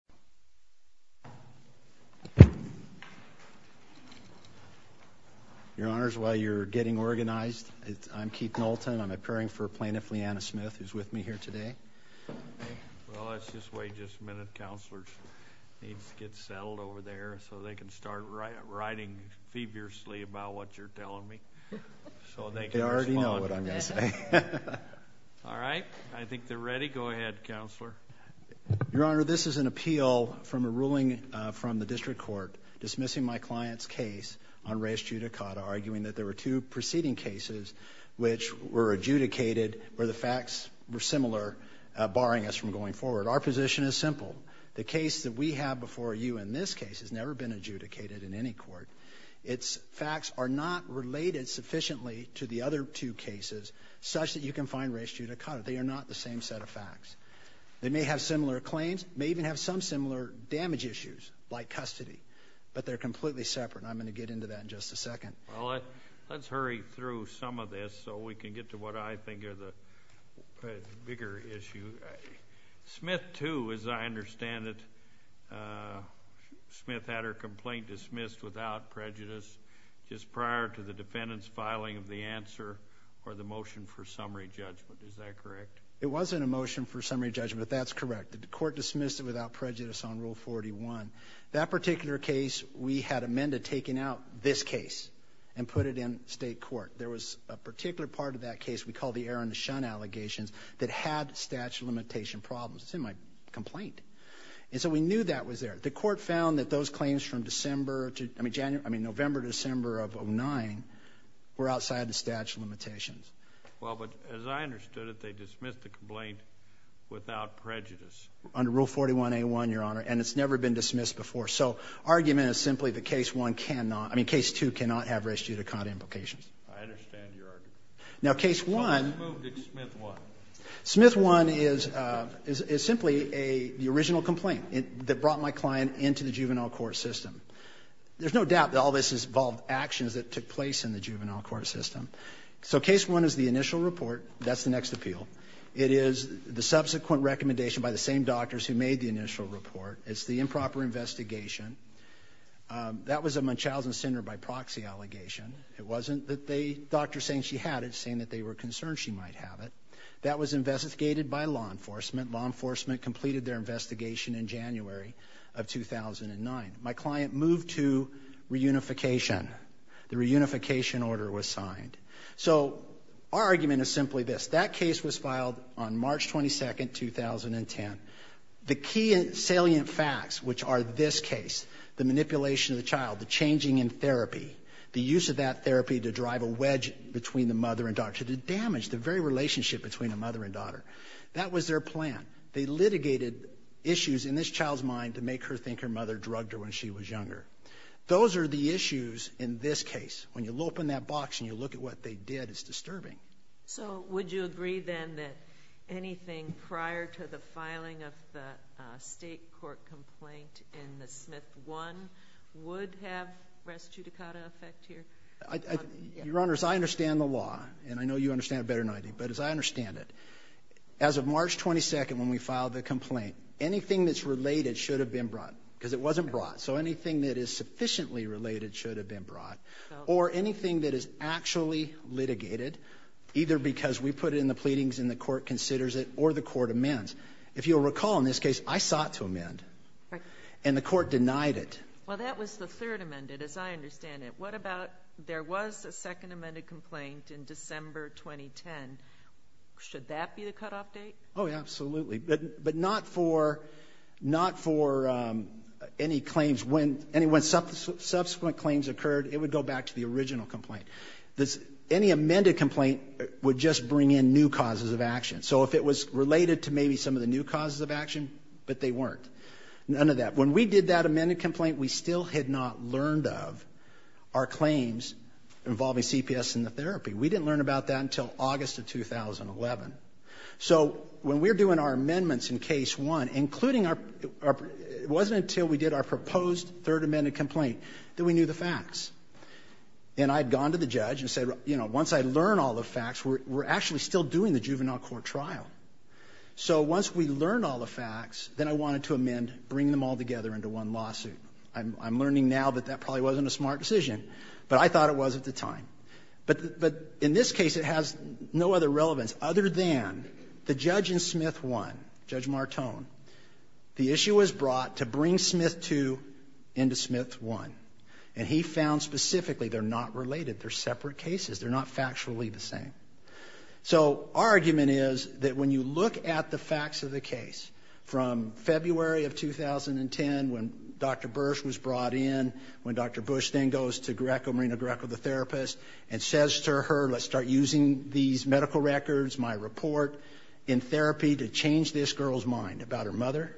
Plaintiff Leanna Smith v. State of Arizona I appeal from a ruling from the District Court dismissing my client's case on reis judicata arguing that there were two preceding cases which were adjudicated where the facts were similar barring us from going forward. Our position is simple. The case that we have before you in this case has never been adjudicated in any court. Its facts are not related sufficiently to the other two cases such that you can find reis judicata. They are not the same set of similar damage issues like custody, but they're completely separate. I'm going to get into that in just a second. Well, let's hurry through some of this so we can get to what I think are the bigger issues. Smith too, as I understand it, Smith had her complaint dismissed without prejudice just prior to the defendant's filing of the answer or the motion for summary judgment. Is that correct? It wasn't a motion for summary judgment. That's correct. The court dismissed it without prejudice on Rule 41. That particular case, we had amended taking out this case and put it in state court. There was a particular part of that case we call the Aaron to Shun allegations that had statute of limitation problems. It's in my complaint. And so we knew that was there. The court found that those claims from December to, I mean January, I mean November to December of 09 were outside the statute of limitations. Well, but as I understood it, they dismissed the complaint without prejudice. Under Rule 41A1, your Honor, and it's never been dismissed before. So argument is simply that Case 1 cannot, I mean Case 2 cannot have res judicata implications. I understand your argument. Now Case 1. So who moved to Smith 1? Smith 1 is simply the original complaint that brought my client into the juvenile court system. There's no doubt that all this has involved actions that took place in the juvenile court system. So Case 1 is the initial report. That's the next appeal. It is the subsequent recommendation by the same doctors who made the initial report. It's the improper investigation. That was a Munchausen syndrome by proxy allegation. It wasn't that the doctor saying she had it saying that they were concerned she might have it. That was investigated by law enforcement. Law enforcement completed their investigation in January of 2009. My client moved to reunification. The reunification order was signed. So our argument is simply this. That case was filed on March 22nd, 2010. The key salient facts, which are this case, the manipulation of the child, the changing in therapy, the use of that therapy to drive a wedge between the mother and daughter, to damage the very relationship between a mother and daughter. That was their plan. They litigated issues in this child's mind to make her think her mother drugged her when she was younger. Those are the issues in this case. When you open that box and you look at what they did, it's disturbing. So would you agree then that anything prior to the filing of the state court complaint in the Smith one would have res judicata effect here? Your Honor, as I understand the law, and I know you understand it better than I do, but as I understand it, as of March 22nd when we filed the complaint, anything that's related should have been brought because it wasn't brought. So anything that is sufficiently related should have been brought. Or anything that is actually litigated, either because we put it in the pleadings and the court considers it or the court amends. If you'll recall in this case, I sought to amend and the court denied it. Well that was the third amended, as I understand it. What about there was a second amended complaint in December 2010. Should that be the cutoff date? Oh yeah, absolutely. But not for, not for any claims when subsequent claims occurred, it would go back to the original complaint. Any amended complaint would just bring in new causes of action. So if it was related to maybe some of the new causes of action, but they weren't. None of that. When we did that amended complaint, we still had not learned of our claims involving CPS and the therapy. We didn't learn about that until August of 2011. So when we're doing our amendments in case one, including our, it wasn't until we did our proposed third amended complaint that we knew the facts. And I had gone to the judge and said, you know, once I learn all the facts, we're actually still doing the juvenile court trial. So once we learned all the facts, then I wanted to amend, bring them all together into one lawsuit. I'm, I'm learning now that that probably wasn't a smart decision, but I thought it was at the time. But, but in this case it has no other relevance other than the judge in Smith one, Judge Martone, the issue was brought to bring Smith two into Smith one. And he found specifically they're not related. They're separate cases. They're not factually the same. So our argument is that when you look at the facts of the case from February of 2010, when Dr. Bursch was brought in, when Dr. Bush then goes to Greco, Marina Greco, the therapist, and says to her, let's start using these medical records, my report in therapy to change this girl's mind about her mother.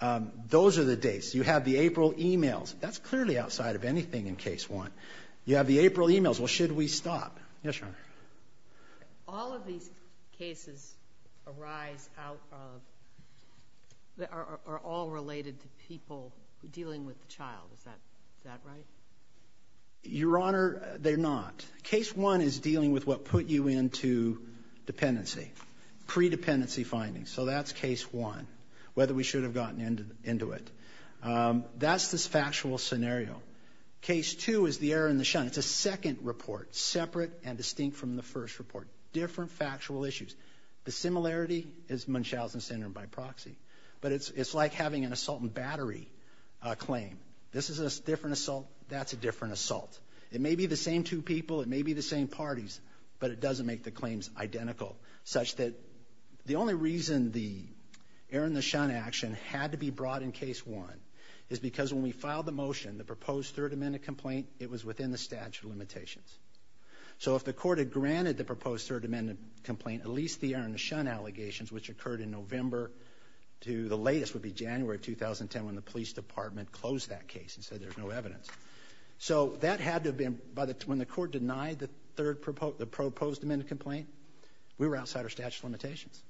Um, those are the dates you have the April emails. That's clearly outside of anything in case one. You have the April emails. Well, should we stop? Yes, Your Honor. All of these cases arise out of, are all related to dealing with the child. Is that right? Your Honor, they're not. Case one is dealing with what put you into dependency, pre-dependency findings. So that's case one, whether we should have gotten into it. That's this factual scenario. Case two is the error in the shine. It's a second report, separate and distinct from the first report. Different factual issues. The similarity is an assault and battery claim. This is a different assault. That's a different assault. It may be the same two people. It may be the same parties, but it doesn't make the claims identical, such that the only reason the error in the shine action had to be brought in case one is because when we filed the motion, the proposed Third Amendment complaint, it was within the statute of limitations. So if the court had granted the proposed Third Amendment complaint, at least the error in the shine allegations, which occurred in November to the latest would be January of 2010, when the police department closed that case and said there's no evidence. So that had to have been, when the court denied the proposed Amendment complaint, we were outside our statute of limitations.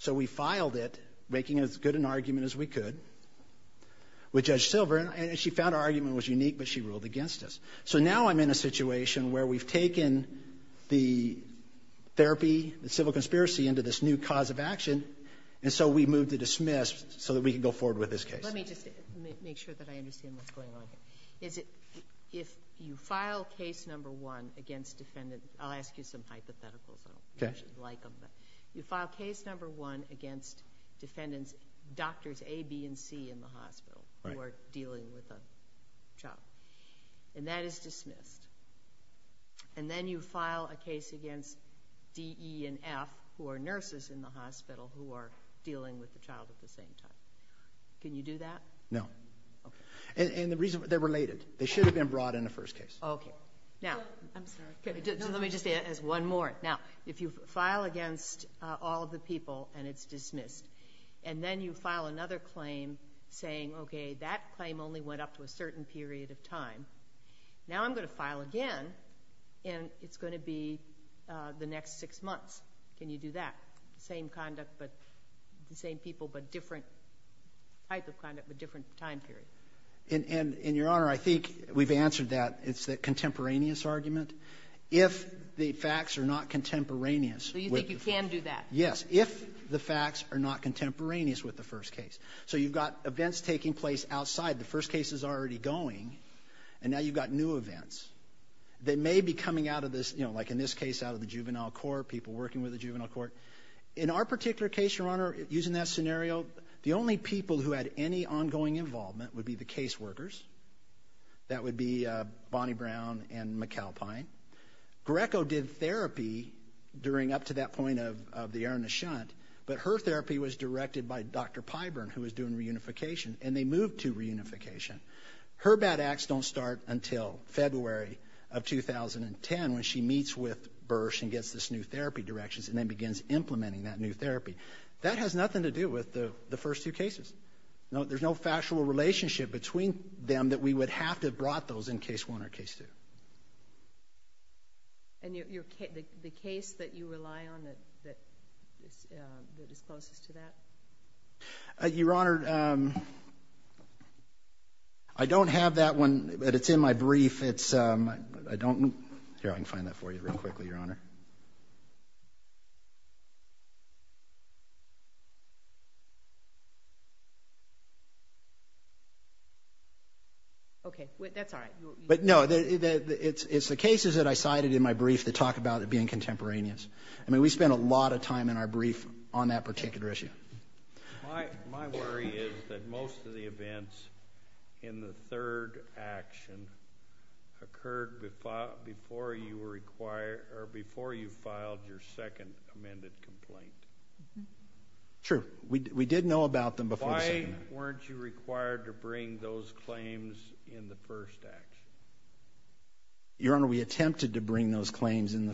So we filed it, making as good an argument as we could, with Judge Silver, and she found our argument was unique, but she ruled against us. So now I'm in a situation where we've taken the therapy, the civil conspiracy, into this new cause of action, and so we move to dismiss, so that we can go forward with this case. Let me just make sure that I understand what's going on here. Is it, if you file case number one against defendant, I'll ask you some hypotheticals, I don't know if you'd like them, but you file case number one against defendants, doctors A, B, and C in the hospital, who are dealing with a child. And that is dismissed. And then you file a case against D, E, and F, who are nurses, in the hospital, who are dealing with the child at the same time. Can you do that? No. And the reason, they're related. They should have been brought in the first case. Okay. Now, let me just add one more. Now, if you file against all of the people, and it's dismissed, and then you file another claim saying, okay, that claim only went up to a certain period of time, now I'm going to file again, and it's going to be the next six months. Can you do that? Same conduct, but the same people, but different type of conduct, but different time period. And, and, and, Your Honor, I think we've answered that. It's that contemporaneous argument. If the facts are not contemporaneous. So you think you can do that? Yes. If the facts are not contemporaneous with the first case. So you've got events taking place outside. The first case is already going, and now you've got new events. They may be coming out of this, you know, like in this case, out of the juvenile court, people working with the juvenile court. In our particular case, Your Honor, using that scenario, the only people who had any ongoing involvement would be the case workers. That would be Bonnie Brown and McAlpine. Greco did therapy during, up to that point of, of the Ernest Shunt, but her therapy was directed by Dr. Pyburn, who was doing reunification, and they moved to reunification. Her bad acts don't start until February of 2010, when she meets with Bursch and gets this new therapy directions, and then begins implementing that new therapy. That has nothing to do with the, the first two cases. No, there's no factual relationship between them that we would have to have brought those in case one or case two. And your, your case, the case that you rely on that, that is closest to that? Your Honor, I don't have that one, but it's in my brief. It's, I don't, here, I can find that for you real quickly, Your Honor. Okay, that's all right. But no, it's, it's the cases that I cited in my brief that talk about it being contemporaneous. I mean, we spend a lot of time in our brief on that particular issue. My, my worry is that most of the events in the third action occurred before, before you were required, or before you filed your second amended complaint. True, we did know about them before. Why weren't you required to bring those claims in the first action? Your Honor, we attempted to bring those claims at the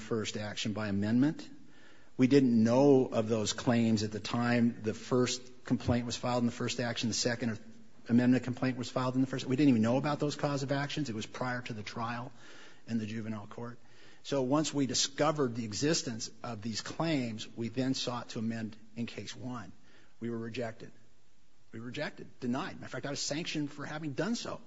time the first complaint was filed in the first action, the second amendment complaint was filed in the first. We didn't even know about those cause of actions. It was prior to the trial in the juvenile court. So once we discovered the existence of these claims, we then sought to amend in case one. We were rejected. We were rejected, denied. In fact, I was sanctioned for having done so.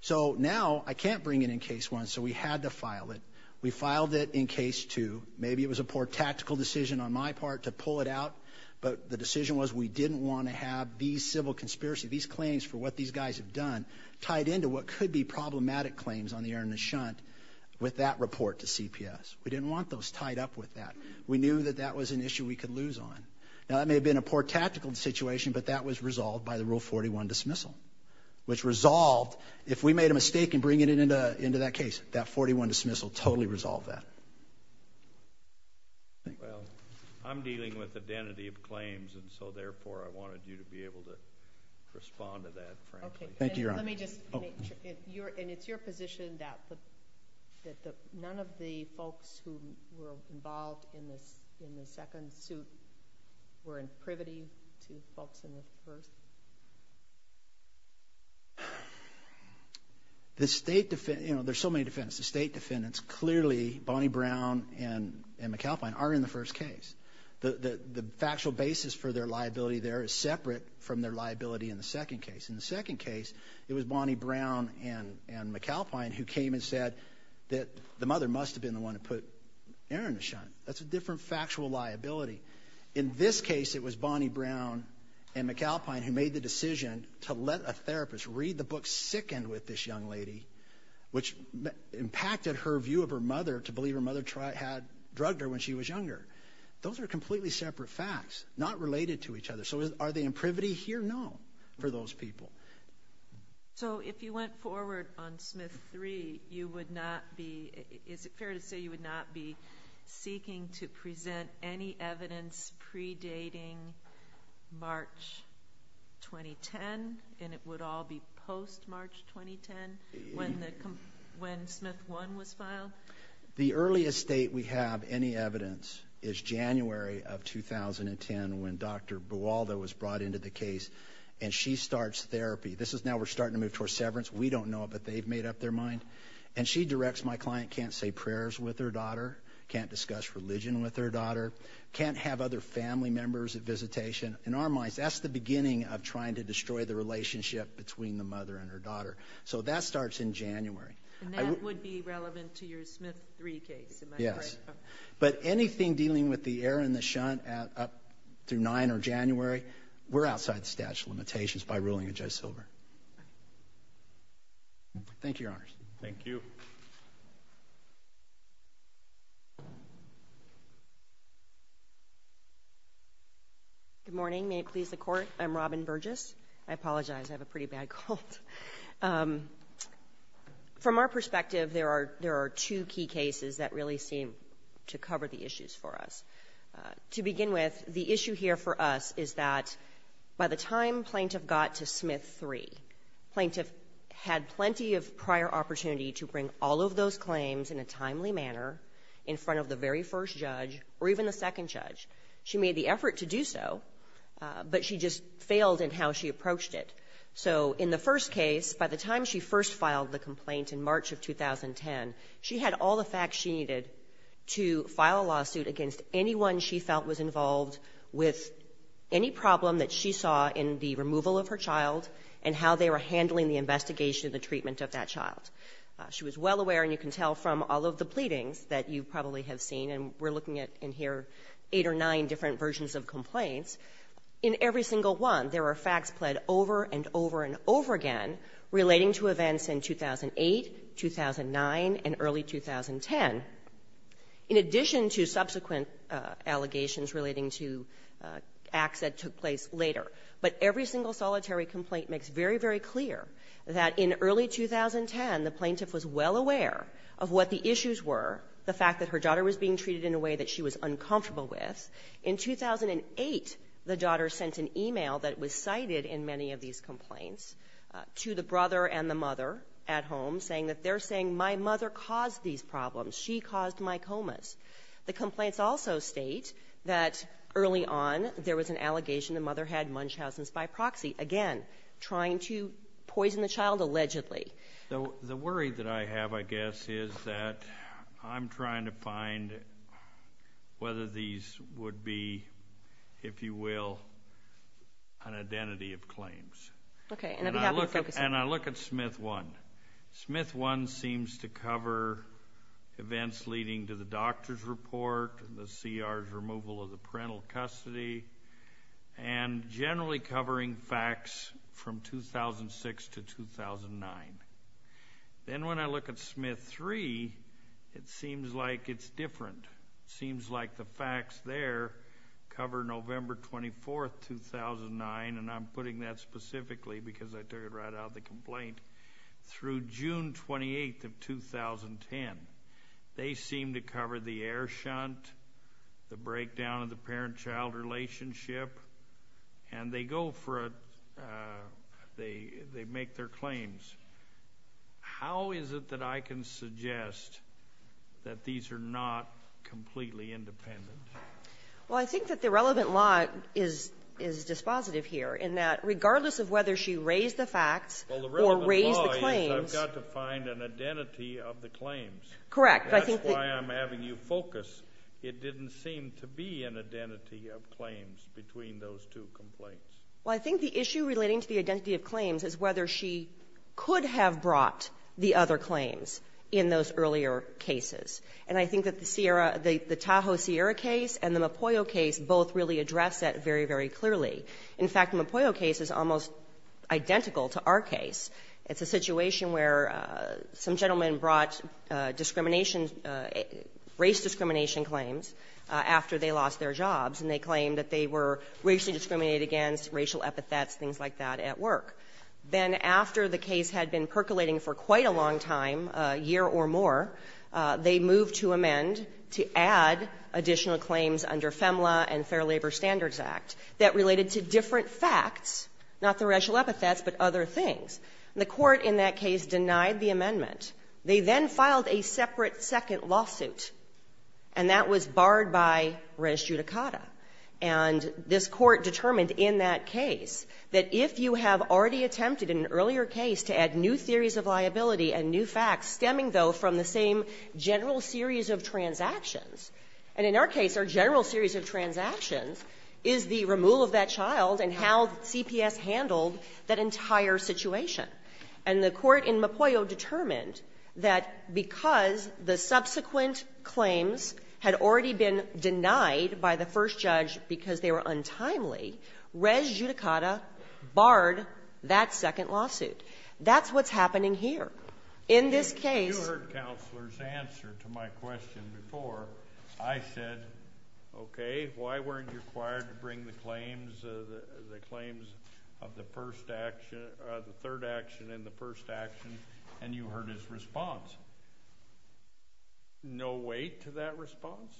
So now I can't bring it in case one, so we had to file it. We filed it in case two. Maybe it was a poor tactical decision on my part to pull it out, but the decision was we didn't want to have these civil conspiracy, these claims for what these guys have done, tied into what could be problematic claims on the earnest shunt with that report to CPS. We didn't want those tied up with that. We knew that that was an issue we could lose on. Now that may have been a poor tactical situation, but that was resolved by the rule 41 dismissal, which resolved if we made a mistake in bringing it into, into that case, that 41 dismissal totally resolved that. Well, I'm dealing with identity of claims, and so therefore I wanted you to be able to respond to that. Thank you. Let me just your and it's your position that that none of the folks who were involved in this in the second suit were in privity to folks in the first. The state defense, you know, there's so many defense, the state defendants, clearly Bonnie Brown and McAlpine are in the first case. The, the, the factual basis for their liability there is separate from their liability in the second case. In the second case, it was Bonnie Brown and, and McAlpine who came and said that the mother must have been the one who put Aaron to shunt. That's a different factual liability. In this case, it was Bonnie Brown and McAlpine who made the decision to let a therapist read the book sickened with this young lady, which impacted her view of her mother to believe her mother had drugged her when she was younger. Those are completely separate facts, not related to each other. So are they in privity here? No, for those people. So if you went forward on Smith three, you would not be. Is it fair to say you would not be seeking to present any evidence predating March 2010 and it would all be post March 2010 when the, when Smith one was filed? The earliest date we have any evidence is January of 2010 when Dr. Buwalda was brought into the case and she starts therapy. This is now we're starting to move towards severance. We don't know it, but they've made up their mind and she directs my daughter, can't discuss religion with her daughter, can't have other family members at visitation. In our minds, that's the beginning of trying to destroy the relationship between the mother and her daughter. So that starts in January would be relevant to your Smith three case. Yes, but anything dealing with the air in the shunt at up to nine or January, we're outside the statute of limitations by ruling a Joe Silver. Thank you, Your Honor. Thank you. Good morning. May it please the Court. I'm Robin Burgess. I apologize. I have a pretty bad cold. From our perspective, there are, there are two key cases that really seem to cover the issues for us. To begin with, the issue here for us is that by the time plaintiff got to Smith three, plaintiff had plenty of prior opportunity to bring all of those claims in a timely manner in front of the very first judge or even the second judge. She made the effort to do so, but she just failed in how she approached it. So in the first case, by the time she first filed the complaint in March of 2010, she had all the facts she needed to file a lawsuit against anyone she felt was involved with any problem that she saw in the removal of her child and how they were handling the investigation, the treatment of that child. She was well aware, and you can tell from all of the pleadings that you probably have seen, and we're looking at in here eight or nine different versions of complaints, in every single one, there are facts pled over and over and over again relating to events in 2008, 2009, and early 2010, in addition to subsequent allegations relating to acts that took place later. But every single solitary 2010, the plaintiff was well aware of what the issues were, the fact that her daughter was being treated in a way that she was uncomfortable with. In 2008, the daughter sent an email that was cited in many of these complaints to the brother and the mother at home, saying that they're saying, my mother caused these problems, she caused my comas. The complaints also state that early on, there was an allegation the mother had Munchausen's by proxy, again, trying to poison the child allegedly. The worry that I have, I guess, is that I'm trying to find whether these would be, if you will, an identity of claims. Okay, and I'd be happy to focus on that. And I look at Smith 1. Smith 1 seems to cover events leading to the doctor's report, the CR's removal of the parental custody, and generally covering facts from 2006 to 2009. Then when I look at Smith 3, it seems like it's different. It seems like the facts there cover November 24th, 2009, and I'm putting that specifically because I took it right out of the complaint, through June 28th of 2010. They seem to cover the air shunt, the breakdown of the parent-child relationship, and they go for it, they make their claims. How is it that I can suggest that these are not completely independent? Well, I think that the relevant law is dispositive here, in that regardless of whether she raised the facts or raised the claims... Well, the relevant law is, I've got to find an identity of the claims. Correct, I think that... Well, I think the issue relating to the identity of claims is whether she could have brought the other claims in those earlier cases. And I think that the Tahoe Sierra case and the Mopoyo case both really address that very, very clearly. In fact, the Mopoyo case is almost identical to our case. It's a situation where some gentleman brought discrimination, race discrimination claims after they lost their jobs, and they claimed that they were racially discriminated against, racial epithets, things like that, at work. Then after the case had been percolating for quite a long time, a year or more, they moved to amend, to add additional claims under FEMLA and Fair Labor Standards Act that related to different facts, not the racial epithets, but other things. And the Court in that case denied the amendment. They then filed a separate second lawsuit, and that was barred by res judicata. And this Court determined in that case that if you have already attempted in an earlier case to add new theories of liability and new facts stemming, though, from the same general series of transactions — and in our case, our general series of transactions is the removal of that child and how CPS handled that entire situation. And the Court in Mopoyo determined that because the subsequent claims had already been denied by the first judge because they were untimely, res judicata barred that second lawsuit. That's what's happening here. In this case — You heard Counselor's answer to my question before. I said, okay, why weren't you required to bring the claims, the claims of the first action, the third action and the first action, and you heard his response. No weight to that response?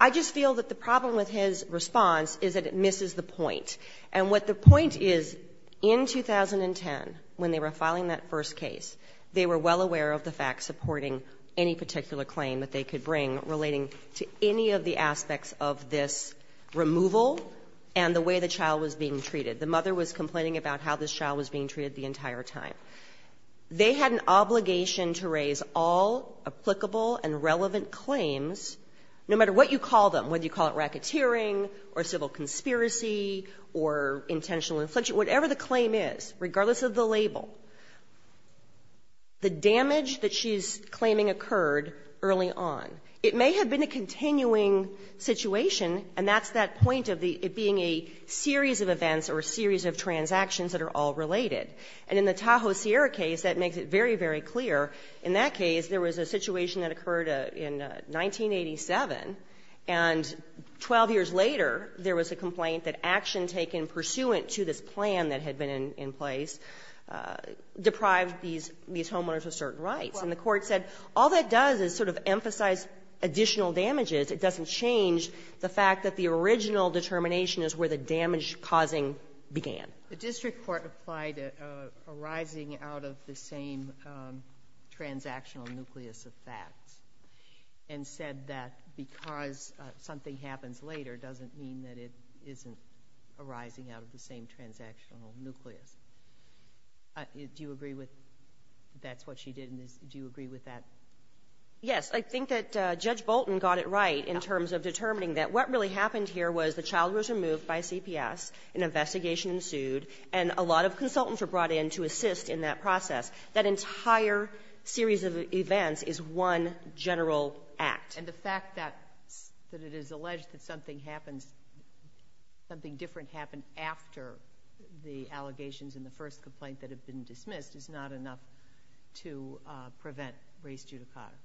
I just feel that the problem with his response is that it misses the point. And what the point is, in 2010, when they were filing that first case, they were well aware of the facts supporting any particular claim that they could bring relating to any of the aspects of this removal and the way the child was being treated. The mother was complaining about how this child was being treated the entire time. They had an obligation to raise all applicable and relevant claims, no matter what you call them, whether you call it racketeering or civil conspiracy or intentional infliction, whatever the claim is, regardless of the label. The damage that she's claiming occurred early on. It may have been a continuing situation, and that's that point of it being a series of events or a series of transactions that are all related. And in the Tahoe Sierra case, that makes it very, very clear. In that case, there was a situation that occurred in 1987, and 12 years later, there was a complaint that action taken pursuant to this plan that had been in place deprived these homeowners of certain rights. And the Court said all that does is sort of emphasize additional damages. It doesn't change the fact that the original determination is where the damage causing began. The district court applied a rising out of the same transactional nucleus of facts, and said that because something happens later doesn't mean that it isn't arising out of the same transactional nucleus. Do you agree with that's what she did? Do you agree with that? Yes. I think that Judge Bolton got it right in terms of determining that what really happened here was the child was removed by CPS, an investigation ensued, and a lot of consultants were brought in to assist in that process. That entire series of events is one general act. And the fact that it is alleged that something happens, something different happened after the allegations in the first complaint that have been dismissed is not enough to prevent that race judicata.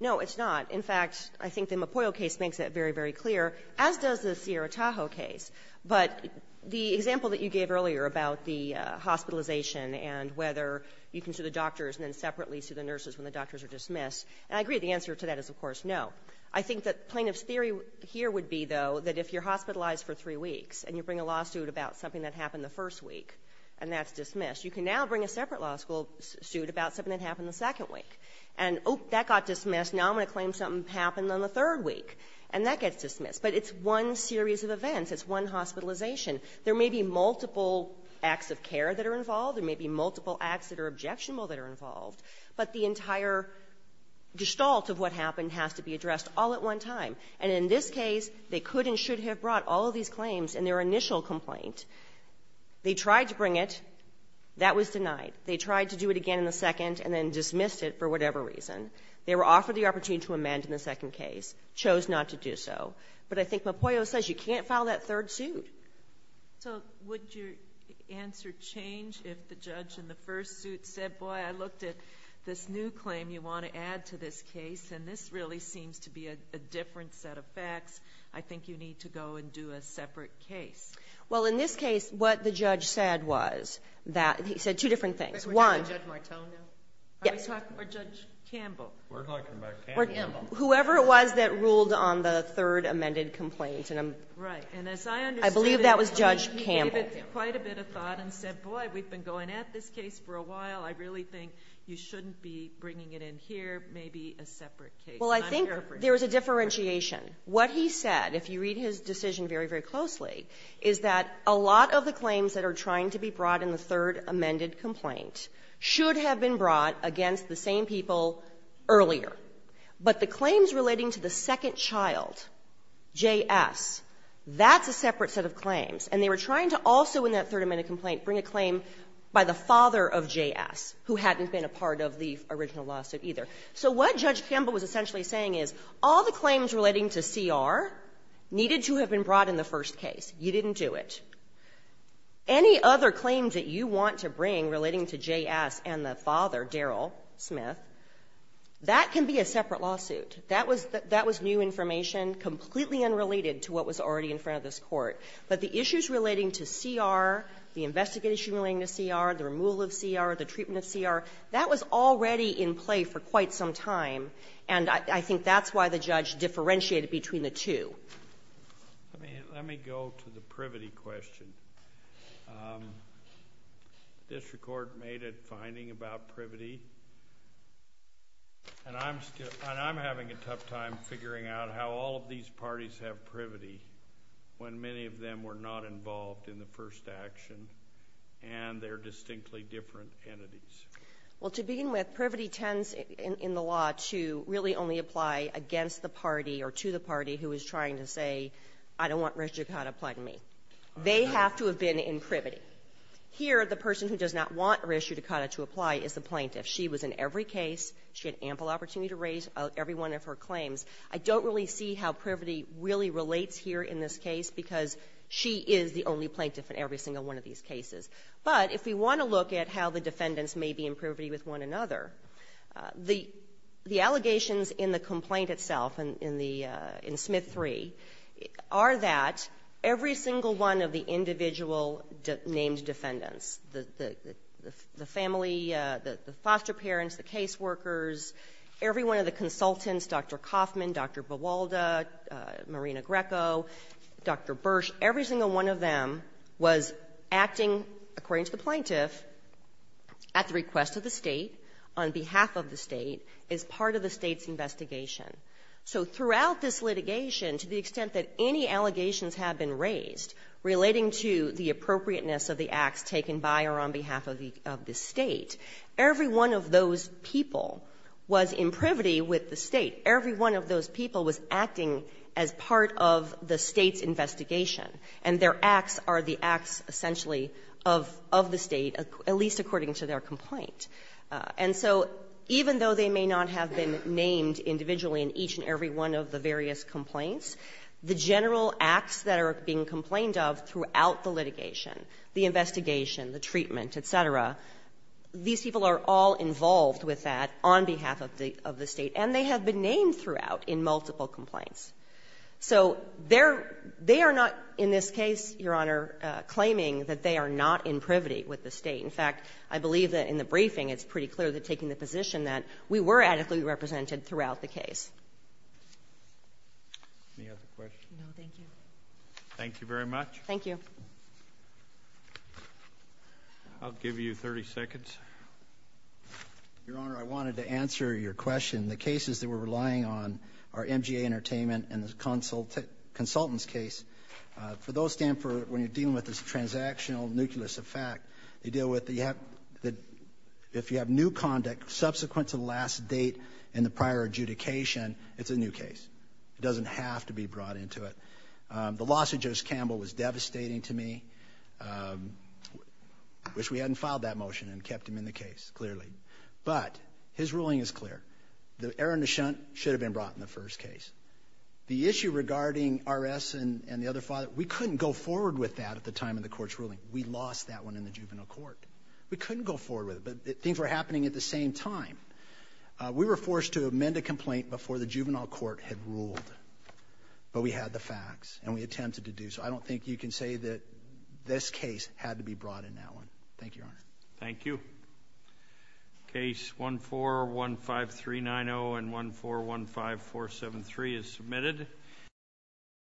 No, it's not. In fact, I think the Mapoyo case makes that very, very clear, as does the Sierra Tahoe case. But the example that you gave earlier about the hospitalization and whether you can sue the doctors and then separately sue the nurses when the doctors are dismissed, and I agree the answer to that is, of course, no. I think that plaintiff's theory here would be, though, that if you're hospitalized for three weeks and you bring a lawsuit about something that happened the first week and that's dismissed, you can now bring a separate lawsuit about something that happened in the second week. And, oh, that got dismissed. Now I'm going to claim something happened on the third week, and that gets dismissed. But it's one series of events. It's one hospitalization. There may be multiple acts of care that are involved. There may be multiple acts that are objectionable that are involved. But the entire gestalt of what happened has to be addressed all at one time. And in this case, they could and should have brought all of these claims in their initial complaint. They tried to bring it. That was denied. They tried to do it again in the first suit, dismissed it for whatever reason. They were offered the opportunity to amend in the second case, chose not to do so. But I think Mopoyo says you can't file that third suit. So, would your answer change if the judge in the first suit said, boy, I looked at this new claim you want to add to this case, and this really seems to be a different set of facts. I think you need to go and do a separate case. Well, in this case, what the judge said was that, he said two different things. One Judge Martone? Yes. Or Judge Campbell? We're talking about Campbell. Whoever it was that ruled on the third amended complaint. Right. And as I understand it, he gave it quite a bit of thought and said, boy, we've been going at this case for a while. I really think you shouldn't be bringing it in here. Maybe a separate case. Well, I think there's a differentiation. What he said, if you read his decision very, very closely, is that a lot of the claims that are trying to be brought in the third amended complaint should have been brought against the same people earlier. But the claims relating to the second child, J.S., that's a separate set of claims. And they were trying to also, in that third amended complaint, bring a claim by the father of J.S., who hadn't been a part of the original lawsuit, either. So what Judge Campbell was essentially saying is, all the claims relating to C.R. needed to have been brought in the first case. You didn't do it. Any other claims that you want to bring relating to J.S. and the father, Daryl Smith, that can be a separate lawsuit. That was new information, completely unrelated to what was already in front of this Court. But the issues relating to C.R., the investigation relating to C.R., the removal of C.R., the treatment of C.R., that was already in play for quite some time, and I think that's why the judge differentiated between the two. Let me go to the privity question. This Court made a finding about privity, and I'm having a tough time figuring out how all of these parties have privity when many of them were not involved in the first action, and they're distinctly different entities. Well, to begin with, privity tends, in the law, to really only apply against the party or to the party who is trying to say, I don't want Res Judicata to apply to me. They have to have been in privity. Here, the person who does not want Res Judicata to apply is the plaintiff. She was in every case. She had ample opportunity to raise every one of her claims. I don't really see how privity really relates here in this case, because she is the only plaintiff in every single one of these cases. But if we want to look at how the defendants may be in privity with one another, the allegations in the complaint itself, in the Smith III, are that every single one of the individual named defendants, the family, the foster parents, the caseworkers, every one of the consultants, Dr. Kaufman, Dr. Vivalda, Marina Greco, Dr. Bursch, every single one of them was acting, according to the plaintiff, at the request of the State, on behalf of the State, as part of the State's investigation. So throughout this litigation, to the extent that any allegations have been raised relating to the appropriateness of the acts taken by or on behalf of the State, every one of those people was in privity with the State. Every one of those people was acting as part of the State's investigation, and their acts are the acts, essentially, of the State, at least according to their complaint. And so even though they may not have been named individually in each and every one of the various complaints, the general acts that are being complained of throughout the litigation, the investigation, the treatment, et cetera, these people are all involved with that on behalf of the State, and they have been named throughout in multiple complaints. So they're not, in this case, Your Honor, claiming that they are not in privity with the State. In fact, I believe that in the briefing, it's pretty clear that taking the position that we were adequately represented throughout the case. Any other questions? No, thank you. Thank you very much. Thank you. I'll give you 30 seconds. Your Honor, I wanted to answer your question. The cases that we're relying on are MGA Entertainment and the Consultants case. For those, when you're dealing with this transactional, nucleus effect, you deal with the, if you have new conduct subsequent to the last date in the prior adjudication, it's a new case. It doesn't have to be brought into it. The loss of Joseph Campbell was devastating to me. I wish we hadn't filed that motion and kept him in the case, clearly. But his ruling is clear. The error in the shunt should have been brought in the first case. The issue regarding R.S. and the other father, we couldn't go forward with that at the time of the court's ruling. We lost that one in the juvenile court. We couldn't go forward with it, but things were happening at the same time. We were forced to amend a complaint before the juvenile court had ruled, but we had the facts and we attempted to do so. I don't think you can say that this case had to be brought in that one. Thank you, Your Honor. Thank you. Case 1415390 and 1415473 is submitted.